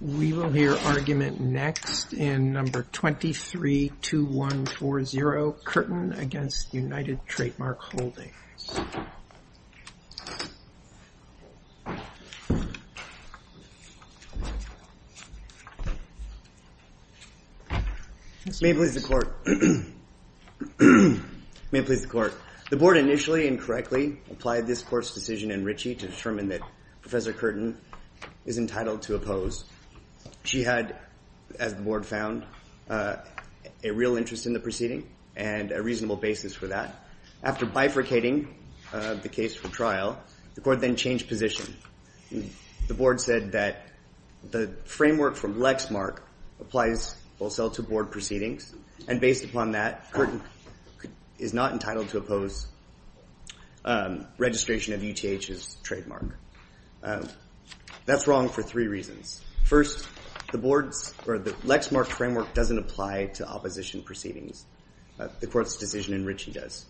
We will hear argument next in No. 232140, Curtin v. United Trademark Holdings. May it please the court. May it please the court. The board initially and correctly applied this court's decision in Ritchie to determine that Professor Curtin is entitled to oppose. She had, as the board found, a real interest in the proceeding and a reasonable basis for that. After bifurcating the case for trial, the court then changed position. The board said that the framework from Lexmark applies both sell to board proceedings. And based upon that, Curtin is not entitled to oppose registration of UTH's trademark. That's wrong for three reasons. First, the Lexmark framework doesn't apply to opposition proceedings. The court's decision in Ritchie does.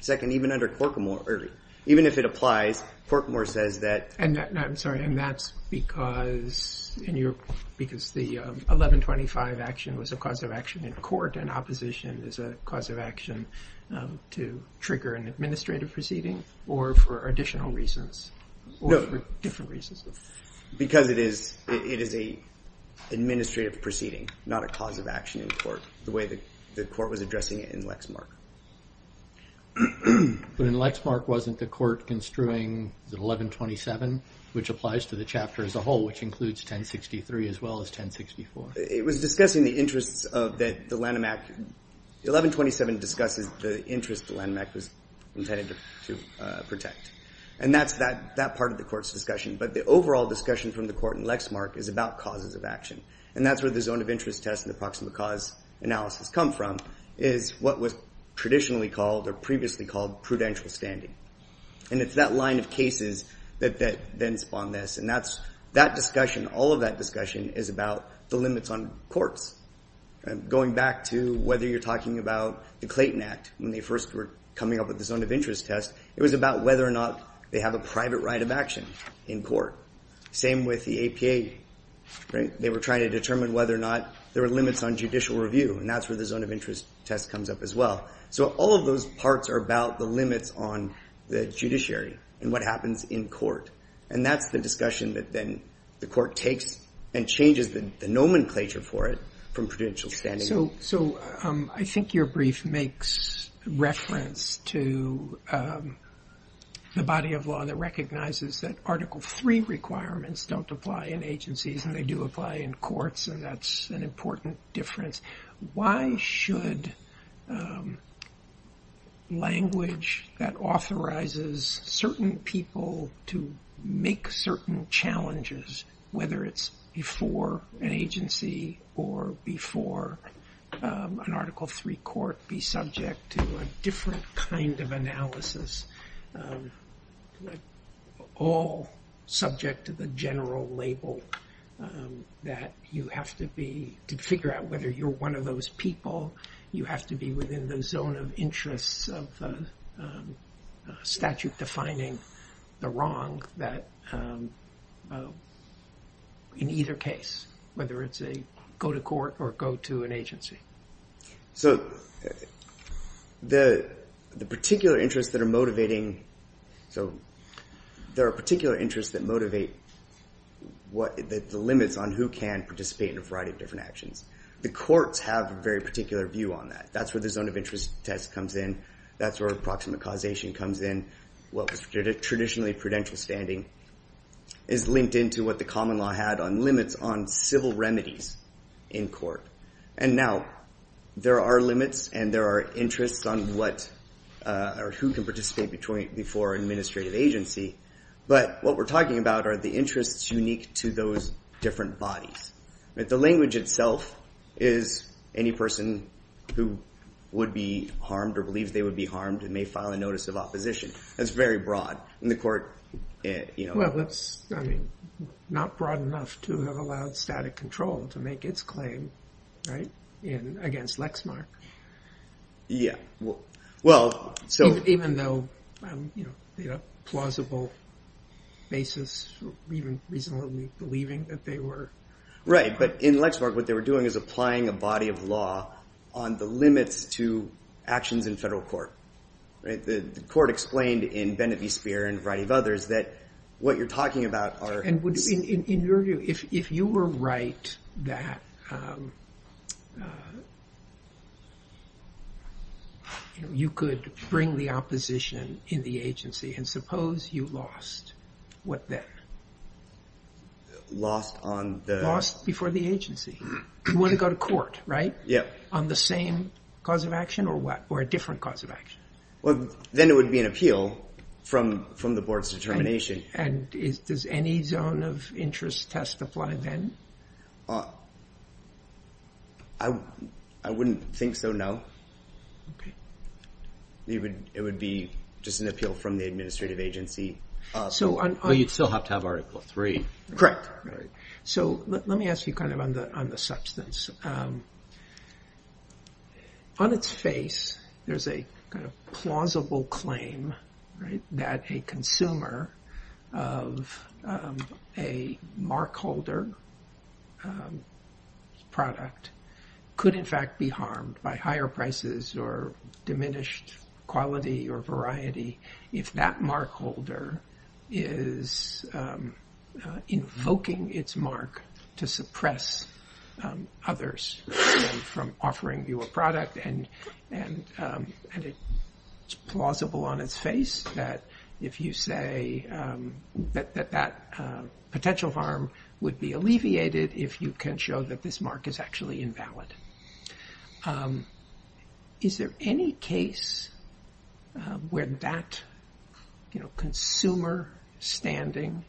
Second, even if it applies, Corkmore says that. And I'm sorry, and that's because the 1125 action was a cause of action in court, and opposition is a cause of action to trigger an administrative proceeding or for additional reasons, or for different reasons. Because it is an administrative proceeding, not a cause of action in court, the way that the court was addressing it in Lexmark. But in Lexmark, wasn't the court construing the 1127, which applies to the chapter as a whole, which includes 1063 as well as 1064? It was discussing the interests of the Lanham Act. 1127 discusses the interest the Lanham Act was intended to protect. And that's that part of the court's discussion. But the overall discussion from the court in Lexmark is about causes of action. And that's where the zone of interest test and the proximate cause analysis come from is what was traditionally called or previously called prudential standing. And it's that line of cases that then spawned this. And all of that discussion is about the limits on courts. Going back to whether you're talking about the Clayton Act, when they first were coming up with the zone of interest test, it was about whether or not they have a private right of action in court. Same with the APA. They were trying to determine whether or not there were limits on judicial review. And that's where the zone of interest test comes up as well. So all of those parts are about the limits on the judiciary and what happens in court. And that's the discussion that then the court takes and changes the nomenclature for it from prudential standing. So I think your brief makes reference to the body of law that recognizes that Article III requirements don't apply in agencies, and they do apply in courts. And that's an important difference. Why should language that authorizes certain people to make certain challenges, whether it's before an agency or before an Article III court, be subject to a different kind of analysis, all subject to the general label that you have to figure out whether you're one of those people. You have to be within the zone of interest of statute defining the wrong that, in either case, whether it's a go-to-court or go-to-an-agency. So there are particular interests that motivate the limits on who can participate in a variety of different actions. The courts have a very particular view on that. That's where the zone of interest test comes in. That's where approximate causation comes in. What was traditionally prudential standing is linked into what the common law had on limits on civil remedies in court. And now, there are limits, and there are interests on who can participate before an administrative agency. But what we're talking about are the interests unique to those different bodies. The language itself is any person who would be harmed or believes they would be harmed may file a notice of opposition. That's very broad. And the court, you know. Well, that's not broad enough to have allowed static control to make its claim against Lexmark. Yeah. Well, so. Even though the plausible basis, even reasonably believing that they were. Right. But in Lexmark, what they were doing is applying a body of law on the limits to actions in federal court. The court explained in Bennett v. Speer and a variety of others that what you're talking about are. And in your view, if you were right that you could bring the opposition in the agency, and suppose you lost, what then? Lost on the. Lost before the agency. You want to go to court, right? Yeah. On the same cause of action or what? Or a different cause of action? Well, then it would be an appeal from the board's determination. And does any zone of interest testify then? I wouldn't think so, no. It would be just an appeal from the administrative agency. So you'd still have to have Article III. Correct. So let me ask you kind of on the substance. On its face, there's a kind of plausible claim that a consumer of a mark holder product could, in fact, be harmed by higher prices or diminished quality or variety if that mark holder is invoking its mark to suppress others from offering you a product. And it's plausible on its face that if you say that that potential harm would be alleviated if you can show that this mark is actually invalid. Is there any case where that consumer standing,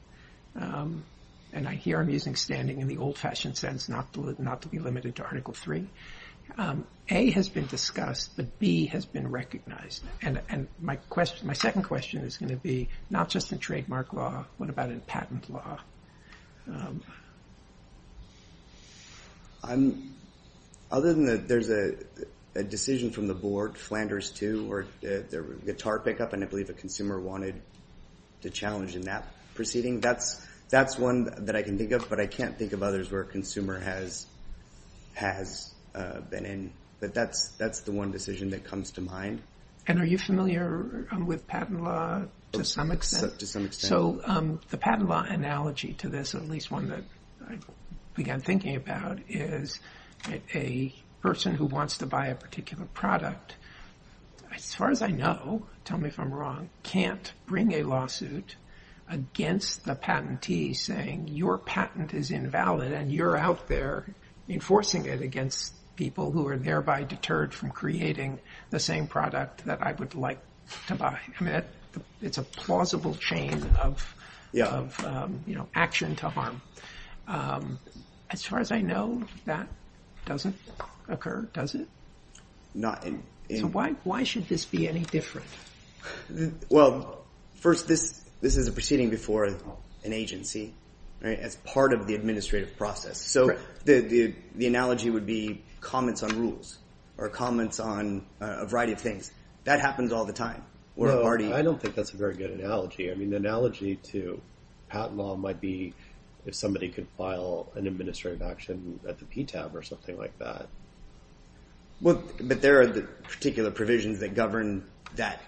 and here I'm using standing in the old fashioned sense, not to be limited to Article III. A has been discussed, but B has been recognized. And my second question is going to be, not just in trademark law, what about in patent law? Other than that there's a decision from the board, Flanders too, or the guitar pickup, and I believe a consumer wanted to challenge in that proceeding. That's one that I can think of, but I can't think of others where a consumer has been in. But that's the one decision that comes to mind. And are you familiar with patent law to some extent? To some extent. So the patent law analogy to this, at least one that I began thinking about, is a person who wants to buy a particular product, as far as I know, tell me if I'm wrong, can't bring a lawsuit against the patentee saying your patent is invalid and you're out there enforcing it against people who are thereby deterred from creating the same product that I would like to buy. It's a plausible chain of action to harm. As far as I know, that doesn't occur, does it? Why should this be any different? Well, first, this is a proceeding before an agency, as part of the administrative process. So the analogy would be comments on rules, or comments on a variety of things. That happens all the time, where a party. I don't think that's a very good analogy. I mean, the analogy to patent law might be if somebody could file an administrative action at the PTAB or something like that. But there are the particular provisions that govern that,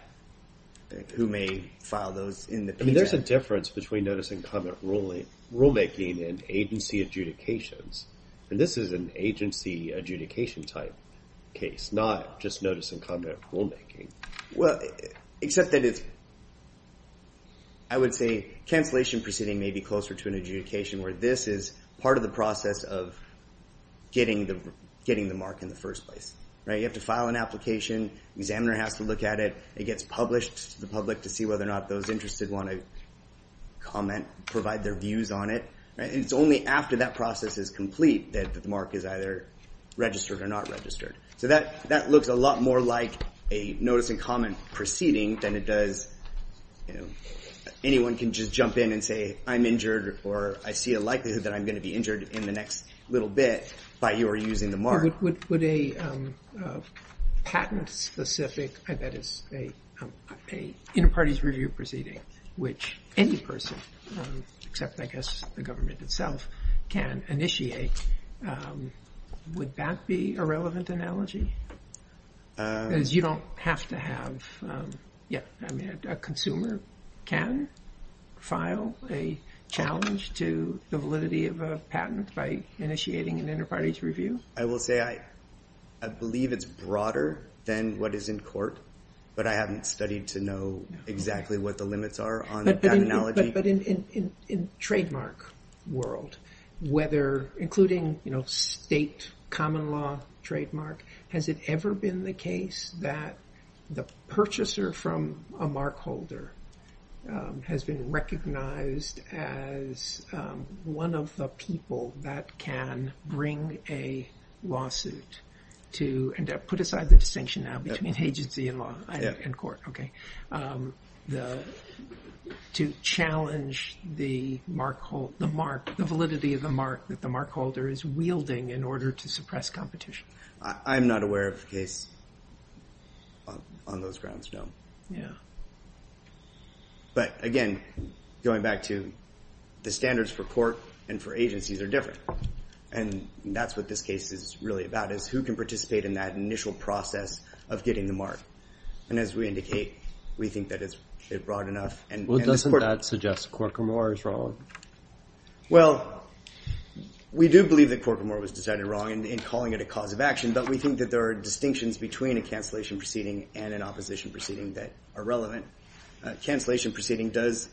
who may file those in the PTAB. I mean, there's a difference between notice and comment rulemaking and agency adjudications. And this is an agency adjudication type case, not just notice and comment rulemaking. Well, except that it's, I would say, cancellation proceeding may be closer to an adjudication, where this is part of the process of getting the mark in the first place. You have to file an application. Examiner has to look at it. It gets published to the public to see whether or not those interested want to comment, provide their views on it. And it's only after that process is complete that the mark is either registered or not registered. So that looks a lot more like a notice and comment proceeding than it does. Anyone can just jump in and say, I'm injured, or I see a likelihood that I'm going to be injured in the next little bit by your using the mark. Would a patent-specific, I bet it's a inter-parties review proceeding, which any person, except I guess the government itself, can initiate, would that be a relevant analogy? Because you don't have to have, yeah, I mean, a consumer can file a challenge to the validity of a patent by initiating an inter-parties review? I will say, I believe it's broader than what is in court. But I haven't studied to know exactly what the limits are on that analogy. But in trademark world, whether, including state common law trademark, has it ever been the case that the purchaser from a mark holder has been recognized as one of the people that can bring a lawsuit to, and put aside the distinction now between agency and court, to challenge the validity of the mark that the mark holder is wielding in order to suppress competition? I'm not aware of a case on those grounds, no. But again, going back to the standards for court and for agencies are different. And that's what this case is really about, is who can participate in that initial process of getting the mark. And as we indicate, we think that it's broad enough. Well, doesn't that suggest Corker-Moore is wrong? Well, we do believe that Corker-Moore was decided wrong in calling it a cause of action. But we think that there are distinctions between a cancellation proceeding and an opposition proceeding that are relevant. Cancellation proceeding does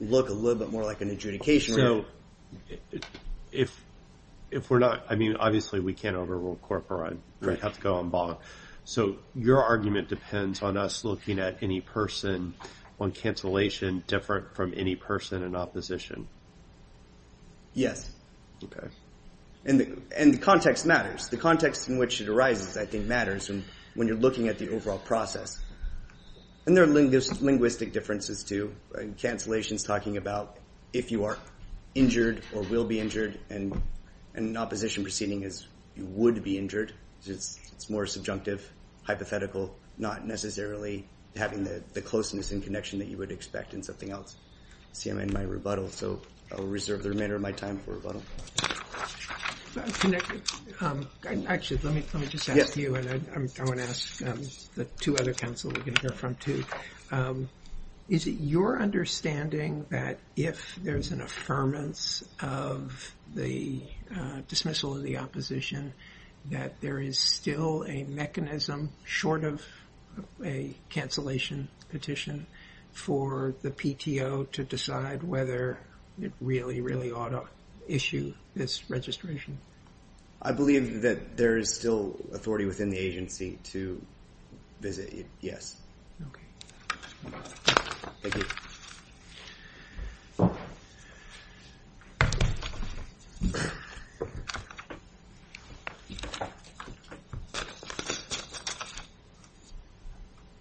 look a little bit more like an adjudication. So if we're not, I mean, obviously we can't overrule Corker-Moore and have to go on bond. So your argument depends on us looking at any person on cancellation different from any person in opposition. Yes. And the context matters. The context in which it arises, I think, matters when you're looking at the overall process. And there are linguistic differences, too. Cancellation's talking about if you are injured or will be injured. And an opposition proceeding is you would be injured. It's more subjunctive, hypothetical, not necessarily having the closeness and connection that you would expect in something else. See, I'm in my rebuttal. So I'll reserve the remainder of my time for rebuttal. Actually, let me just ask you. And I want to ask the two other counsel we're going to hear from, too. Is it your understanding that if there's an affirmance of the dismissal of the opposition that there is still a mechanism short of a cancellation petition for the PTO to decide whether it really, really ought to issue this registration? I believe that there is still authority within the agency to visit. Yes.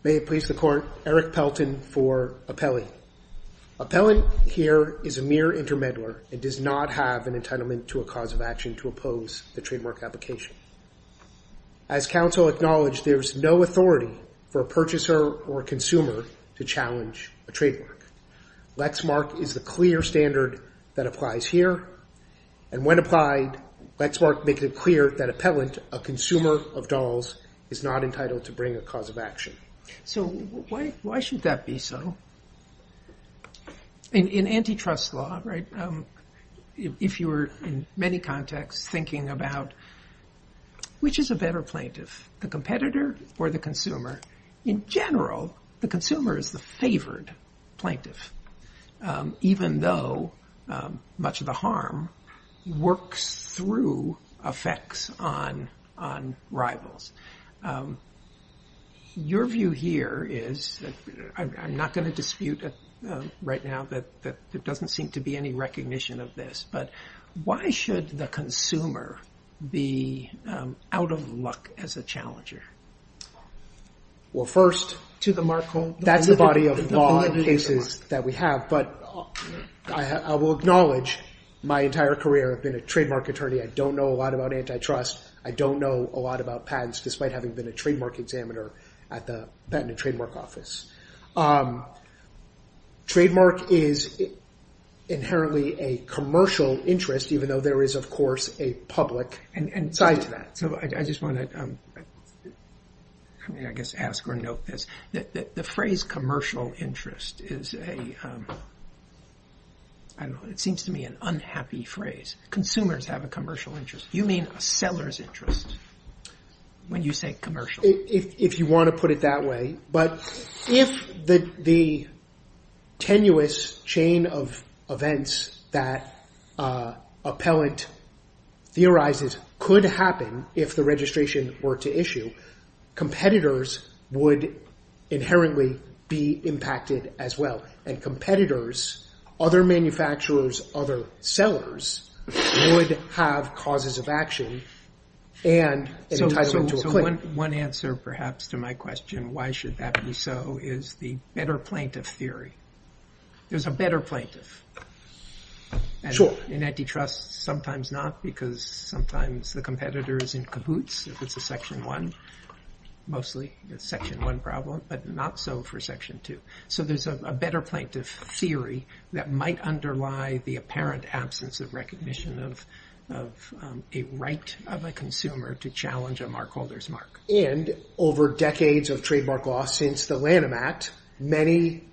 May it please the court. Eric Pelton for appellee. Appellant here is a mere intermeddler and does not have an entitlement to a cause of action to oppose the trademark application. As counsel acknowledged, there is no authority for a purchaser or consumer to challenge a trademark. Lexmark is the clear standard that applies here. And when applied, Lexmark makes it clear that appellant, a consumer of dolls, is not entitled to bring a cause of action. So why should that be so? In antitrust law, if you were, in many contexts, thinking about which is a better plaintiff, the competitor or the consumer, in general, the consumer is the favored plaintiff, even though much of the harm works through effects on rivals. Your view here is that I'm not going to dispute right now that there doesn't seem to be any recognition of this. But why should the consumer be out of luck as a challenger? Well, first, that's the body of law in cases that we have. But I will acknowledge my entire career I've been a trademark attorney. I don't know a lot about antitrust. I don't know a lot about patents, despite having been a trademark examiner at the Patent and Trademark Office. Trademark is inherently a commercial interest, even though there is, of course, a public side to that. So I just want to, I mean, I guess ask or note this. The phrase commercial interest is a, I don't know, it seems to me an unhappy phrase. Consumers have a commercial interest. You mean a seller's interest when you say commercial. If you want to put it that way. But if the tenuous chain of events that appellant theorizes could happen if the registration were to issue, competitors would inherently be impacted as well. And competitors, other manufacturers, other sellers, would have causes of action and entitlement to a claim. One answer, perhaps, to my question, why should that be so, is the better plaintiff theory. There's a better plaintiff. In antitrust, sometimes not, because sometimes the competitor is in kibbutz if it's a section one, mostly. It's a section one problem, but not so for section two. So there's a better plaintiff theory that might underlie the apparent absence of recognition of a right of a consumer to challenge a mark holder's mark. And over decades of trademark law since the Lanham Act, many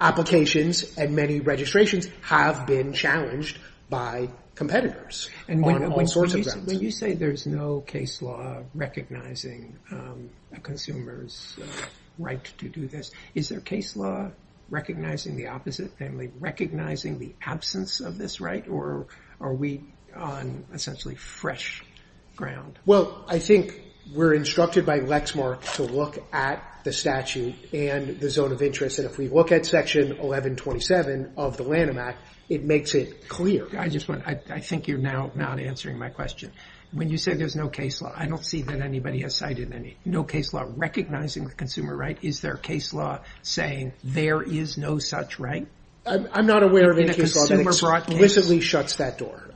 applications and many registrations have been challenged by competitors on all sorts of grounds. When you say there's no case law recognizing a consumer's right to do this, is there a case law recognizing the opposite, namely recognizing the absence of this right, or are we on essentially fresh ground? Well, I think we're instructed by Lexmark to look at the statute and the zone of interest. And if we look at section 1127 of the Lanham Act, it makes it clear. I just want to, I think you're now not answering my question. When you say there's no case law, I don't see that anybody has cited any. No case law recognizing the consumer right, is there a case law saying there is no such right? I'm not aware of any case law that explicitly shuts that door.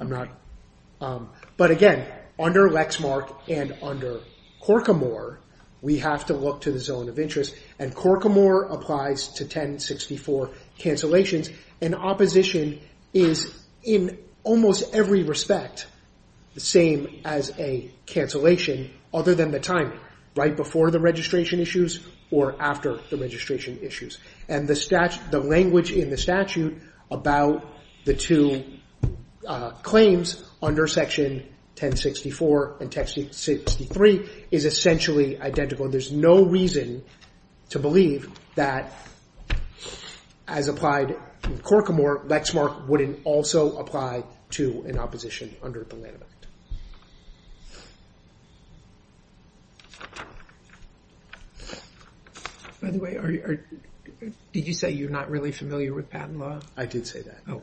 But again, under Lexmark and under Corcomore, we have to look to the zone of interest. And Corcomore applies to 1064 cancellations. And opposition is, in almost every respect, the same as a cancellation, other than the time, right before the registration issues or after the registration issues. And the language in the statute about the two claims under section 1064 and 1063 is essentially identical. There's no reason to believe that, as applied in Corcomore, Lexmark wouldn't also apply to an opposition under the Lanham Act. By the way, did you say you're not really familiar with patent law? I did say that. Oh,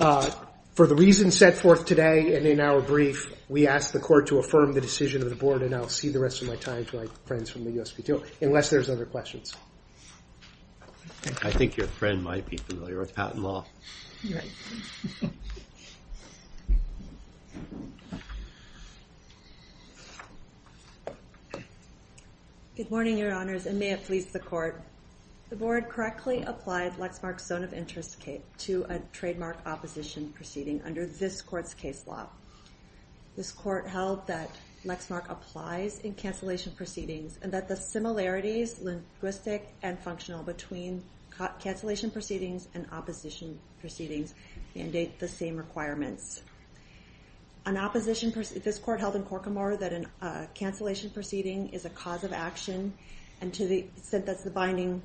OK. For the reasons set forth today and in our brief, we ask the court to affirm the decision of the board. And I'll see the rest of my time to my friends from the USPTO, unless there's other questions. I think your friend might be familiar with patent law. You're right. Good morning, your honors, and may it please the court. The board correctly applied Lexmark's zone of interest to a trademark opposition proceeding under this court's case law. This court held that Lexmark applies in cancellation proceedings and that the similarities linguistic and functional between cancellation proceedings and opposition proceedings mandate the same requirements. This court held in Corcomore that a cancellation proceeding is a cause of action. And to the extent that's the binding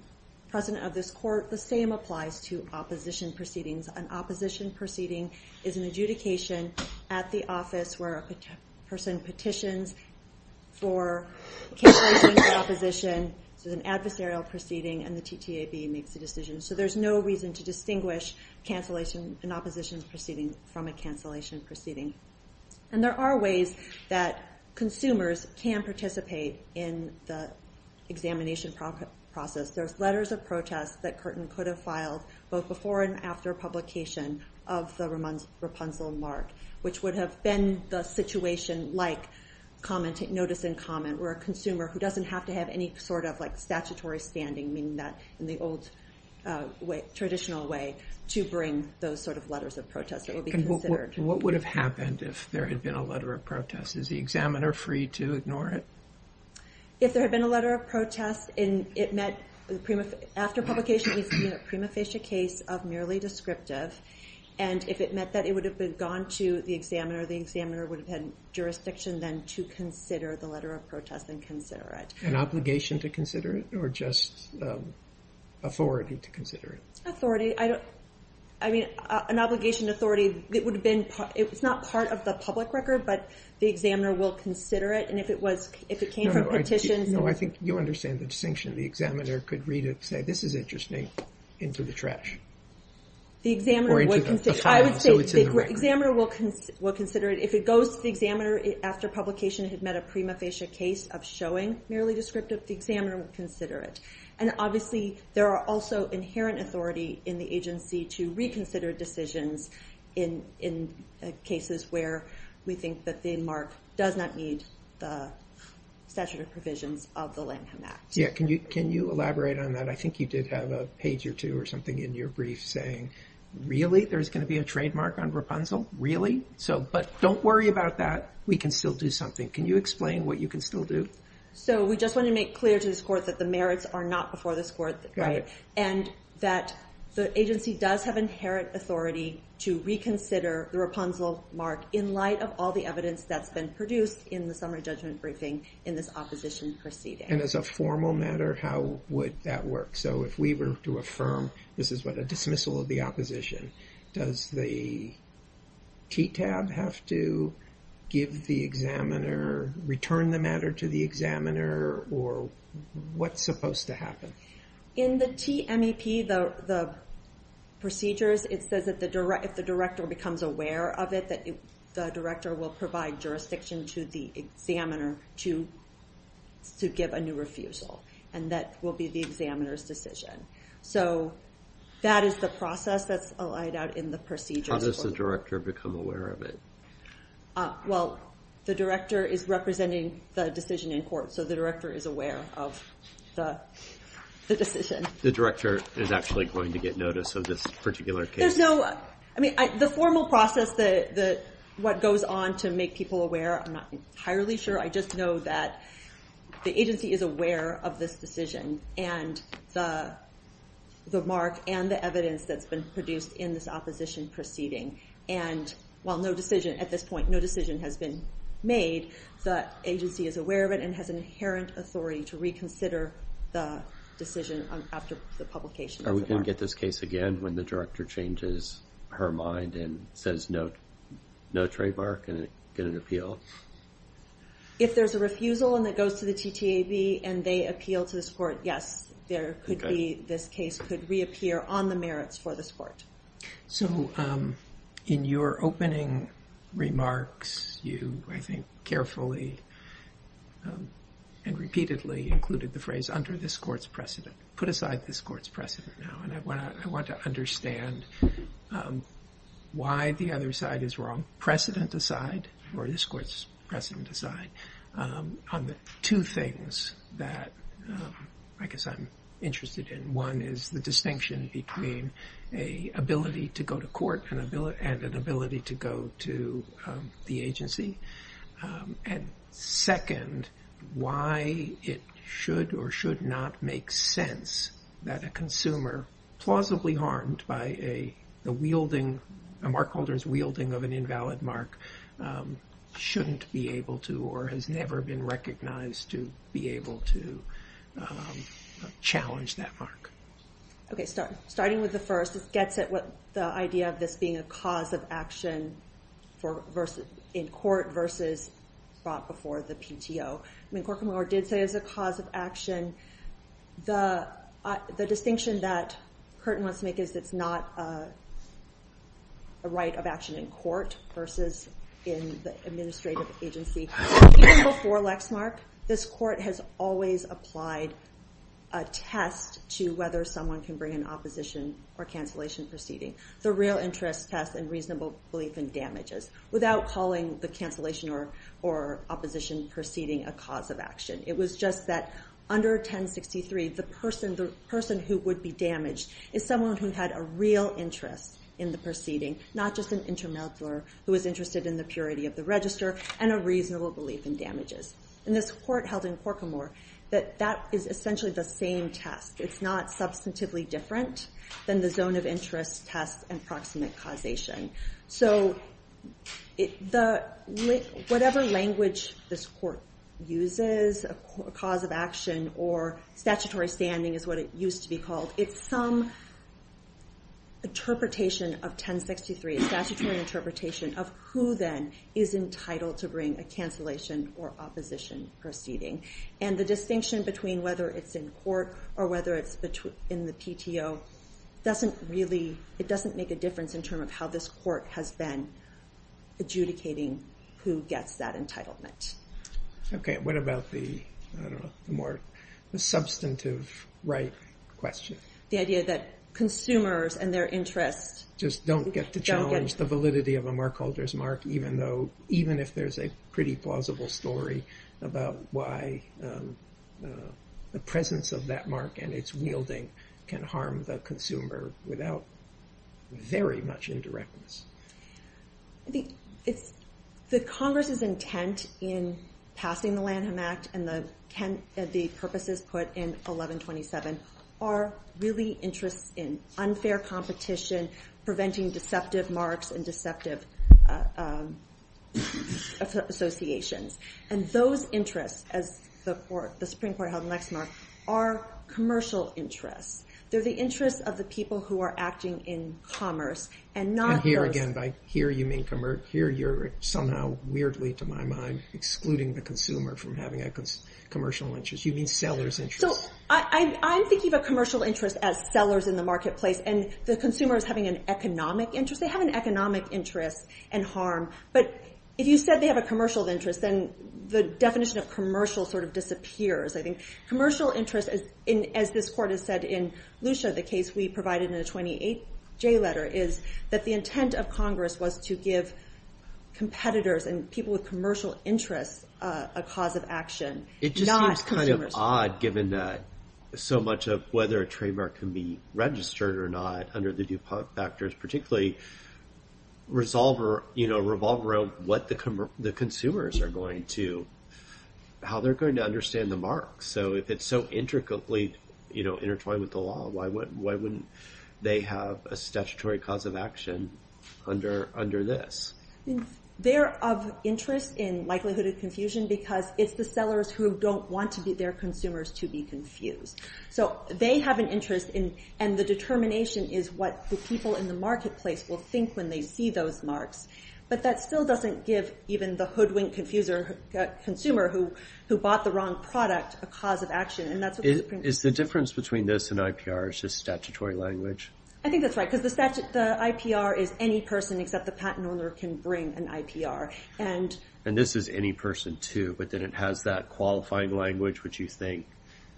precedent of this court, the same applies to opposition proceedings. An opposition proceeding is an adjudication at the office where a person petitions for cancellation of the opposition. So it's an adversarial proceeding, and the TTAB makes the decision. So there's no reason to distinguish cancellation and opposition proceedings from a cancellation proceeding. And there are ways that consumers can participate in the examination process. There's letters of protest that Curtin could have filed both before and after publication of the Rapunzel mark, which would have been the situation like notice and comment, where a consumer who doesn't have to have any sort of statutory standing, meaning that in the old traditional way, to bring those sort of letters of protest that will be considered. What would have happened if there had been a letter of protest? Is the examiner free to ignore it? If there had been a letter of protest, after publication, it would have been a prima facie case of merely descriptive. And if it meant that it would have been gone to the examiner, the examiner would have had jurisdiction then to consider the letter of protest and consider it. An obligation to consider it? Or just authority to consider it? I mean, an obligation to authority, it would have been, it's not part of the public record, but the examiner will consider it. And if it was, if it came from petitions. No, I think you understand the distinction. The examiner could read it and say, this is interesting, into the trash. The examiner would consider it. I would say the examiner will consider it. If it goes to the examiner after publication, it had met a prima facie case of showing merely descriptive, the examiner would consider it. And obviously there are also inherent authority in the agency to reconsider decisions in cases where we think that the mark does not meet the statute of provisions of the Lanham Act. Yeah, can you elaborate on that? I think you did have a page or two or something in your brief saying, really, there's gonna be a trademark on Rapunzel? Really? So, but don't worry about that. We can still do something. Can you explain what you can still do? So we just want to make clear to this court that the merits are not before this court, and that the agency does have inherent authority to reconsider the Rapunzel mark in light of all the evidence that's been produced in the summary judgment briefing in this opposition proceeding. And as a formal matter, how would that work? So if we were to affirm, this is what a dismissal of the opposition, does the TTAB have to give the examiner, return the matter to the examiner, or what's supposed to happen? In the TMEP, the procedures, it says that if the director becomes aware of it, that the director will provide jurisdiction to the examiner to give a new refusal, and that will be the examiner's decision. So that is the process that's allowed out in the procedures. How does the director become aware of it? Well, the director is representing the decision in court, so the director is aware of the decision. The director is actually going to get notice of this particular case? There's no, I mean, the formal process, what goes on to make people aware, I'm not entirely sure, I just know that the agency is aware of this decision, and the mark and the evidence that's been produced in this opposition proceeding. And while no decision, at this point, no decision has been made, the agency is aware of it and has an inherent authority to reconsider the decision after the publication. Are we gonna get this case again when the director changes her mind and says no trademark and get an appeal? If there's a refusal and it goes to the TTAB and they appeal to this court, yes, there could be, this case could reappear on the merits for this court. So in your opening remarks, you, I think, carefully and repeatedly included the phrase under this court's precedent, put aside this court's precedent now, and I want to understand why the other side is wrong, precedent aside, or this court's precedent aside, on the two things that I guess I'm interested in. One is the distinction between a ability to go to court and an ability to go to the agency. And second, why it should or should not make sense that a consumer, plausibly harmed by a wielding, a mark holder's wielding of an invalid mark, shouldn't be able to or has never been recognized to be able to challenge that mark. Okay, starting with the first, this gets at the idea of this being a cause of action in court versus brought before the PTO. I mean, Corker-Moore did say it was a cause of action. The distinction that Hurton wants to make is it's not a right of action in court versus in the administrative agency. Before Lexmark, this court has always applied a test to whether someone can bring an opposition or cancellation proceeding, the real interest test and reasonable belief in damages, without calling the cancellation or opposition proceeding a cause of action. It was just that under 1063, the person who would be damaged is someone who had a real interest in the proceeding, not just an intermurder who was interested in the purity of the register and a reasonable belief in damages. And this court held in Corker-Moore that that is essentially the same test. It's not substantively different than the zone of interest test and proximate causation. So whatever language this court uses, a cause of action or statutory standing is what it used to be called, it's some interpretation of 1063, a statutory interpretation of who then is entitled to bring a cancellation or opposition proceeding. And the distinction between whether it's in court or whether it's in the PTO doesn't really, it doesn't make a difference in terms of how this court has been adjudicating who gets that entitlement. Okay, what about the more substantive right question? The idea that consumers and their interests just don't get to challenge the validity of a mark holder's mark, even if there's a pretty plausible story about why the presence of that mark and its wielding can harm the consumer without very much indirectness. The Congress's intent in passing the Lanham Act and the purposes put in 1127 are really interests in unfair competition, preventing deceptive marks and deceptive associations. And those interests, as the Supreme Court held in Lexmark, are commercial interests. They're the interests of the people who are acting in commerce and not those- And here again, by here you mean, here you're somehow weirdly, to my mind, excluding the consumer from having a commercial interest. You mean seller's interest. I'm thinking of a commercial interest as sellers in the marketplace and the consumer is having an economic interest. They have an economic interest and harm. But if you said they have a commercial interest, then the definition of commercial sort of disappears. I think commercial interest, as this Court has said in Lucia, the case we provided in the 28J letter, is that the intent of Congress was to give competitors and people with commercial interests a cause of action. It just seems kind of odd given that so much of whether a trademark can be registered or not under the due factors, particularly revolve around what the consumers are going to, how they're going to understand the mark. So if it's so intricately intertwined with the law, why wouldn't they have a statutory cause of action under this? They're of interest in likelihood of confusion because it's the sellers who don't want to get their consumers to be confused. So they have an interest in, and the determination is what the people in the marketplace will think when they see those marks. But that still doesn't give even the hoodwinked consumer who bought the wrong product a cause of action, and that's what the Supreme Court says. Is the difference between this and IPR is just statutory language? I think that's right, because the IPR is any person except the patent owner can bring an IPR. And this is any person too, but then it has that qualifying language, which you think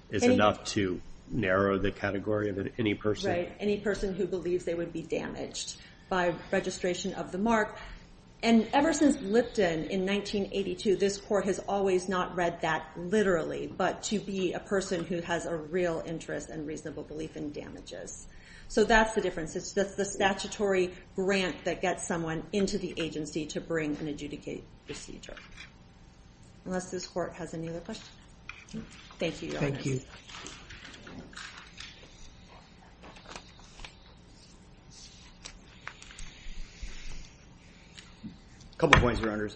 is enough to narrow the category of any person. Right, any person who believes they would be damaged by registration of the mark. And ever since Lipton in 1982, this court has always not read that literally, but to be a person who has a real interest and reasonable belief in damages. So that's the difference. It's the statutory grant that gets someone into the agency to bring an adjudicate procedure. Unless this court has any other questions. Thank you. Thank you. Couple points, Your Honors.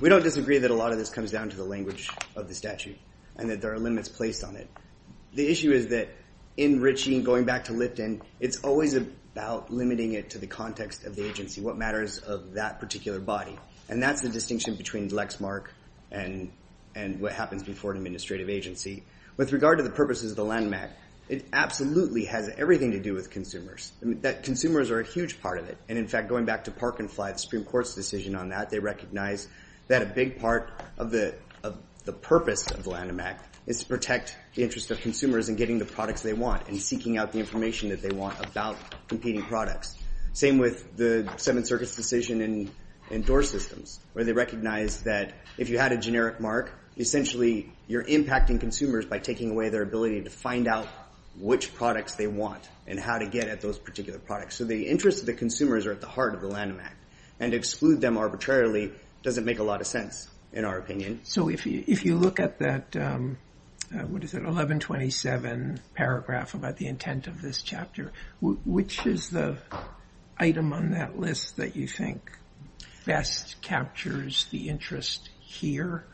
We don't disagree that a lot of this comes down to the language of the statute, and that there are limits placed on it. The issue is that in Ritchie and going back to Lipton, it's always about limiting it to the context of the agency, what matters of that particular body. And that's the distinction between Lexmark and what happens before an administrative agency. With regard to the purposes of the Lanham Act, it absolutely has everything to do with consumers. That consumers are a huge part of it. And in fact, going back to Park and Fly, the Supreme Court's decision on that, they recognize that a big part of the purpose of the Lanham Act is to protect the interest of consumers in getting the products they want and seeking out the information that they want about competing products. Same with the Seventh Circuit's decision in door systems, where they recognize that if you had a generic mark, essentially you're impacting consumers by taking away their ability to find out which products they want and how to get at those particular products. So the interest of the consumers are at the heart of the Lanham Act. And to exclude them arbitrarily doesn't make a lot of sense, in our opinion. So if you look at that, what is it, 1127 paragraph about the intent of this chapter, which is the item on that list that you think best captures the interest here?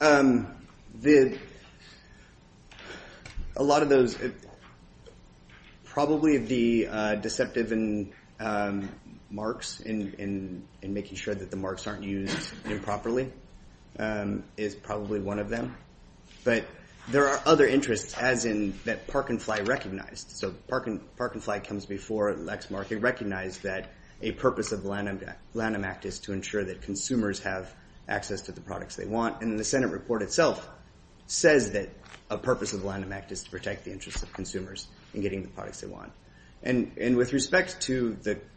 A lot of those, probably the deceptive marks in making sure that the marks aren't used improperly is probably one of them. But there are other interests, as in that Park and Fly recognized. Park and Fly comes before Lexmark. It recognized that a purpose of the Lanham Act is to ensure that consumers have access to the products they want. And the Senate report itself says that a purpose of the Lanham Act is to protect the interests of consumers in getting the products they want. And with respect to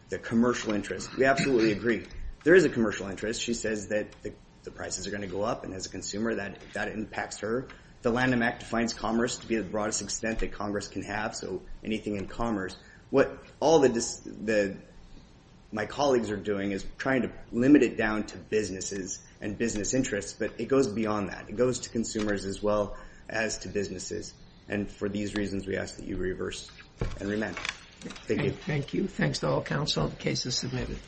the commercial interest, we absolutely agree. There is a commercial interest. She says that the prices are gonna go up and as a consumer, that impacts her. The Lanham Act defines commerce to be the broadest extent that Congress can have. Anything in commerce, what all my colleagues are doing is trying to limit it down to businesses and business interests, but it goes beyond that. It goes to consumers as well as to businesses. And for these reasons, we ask that you reverse and remand. Thank you. Thank you. Thanks to all counsel. The case is submitted.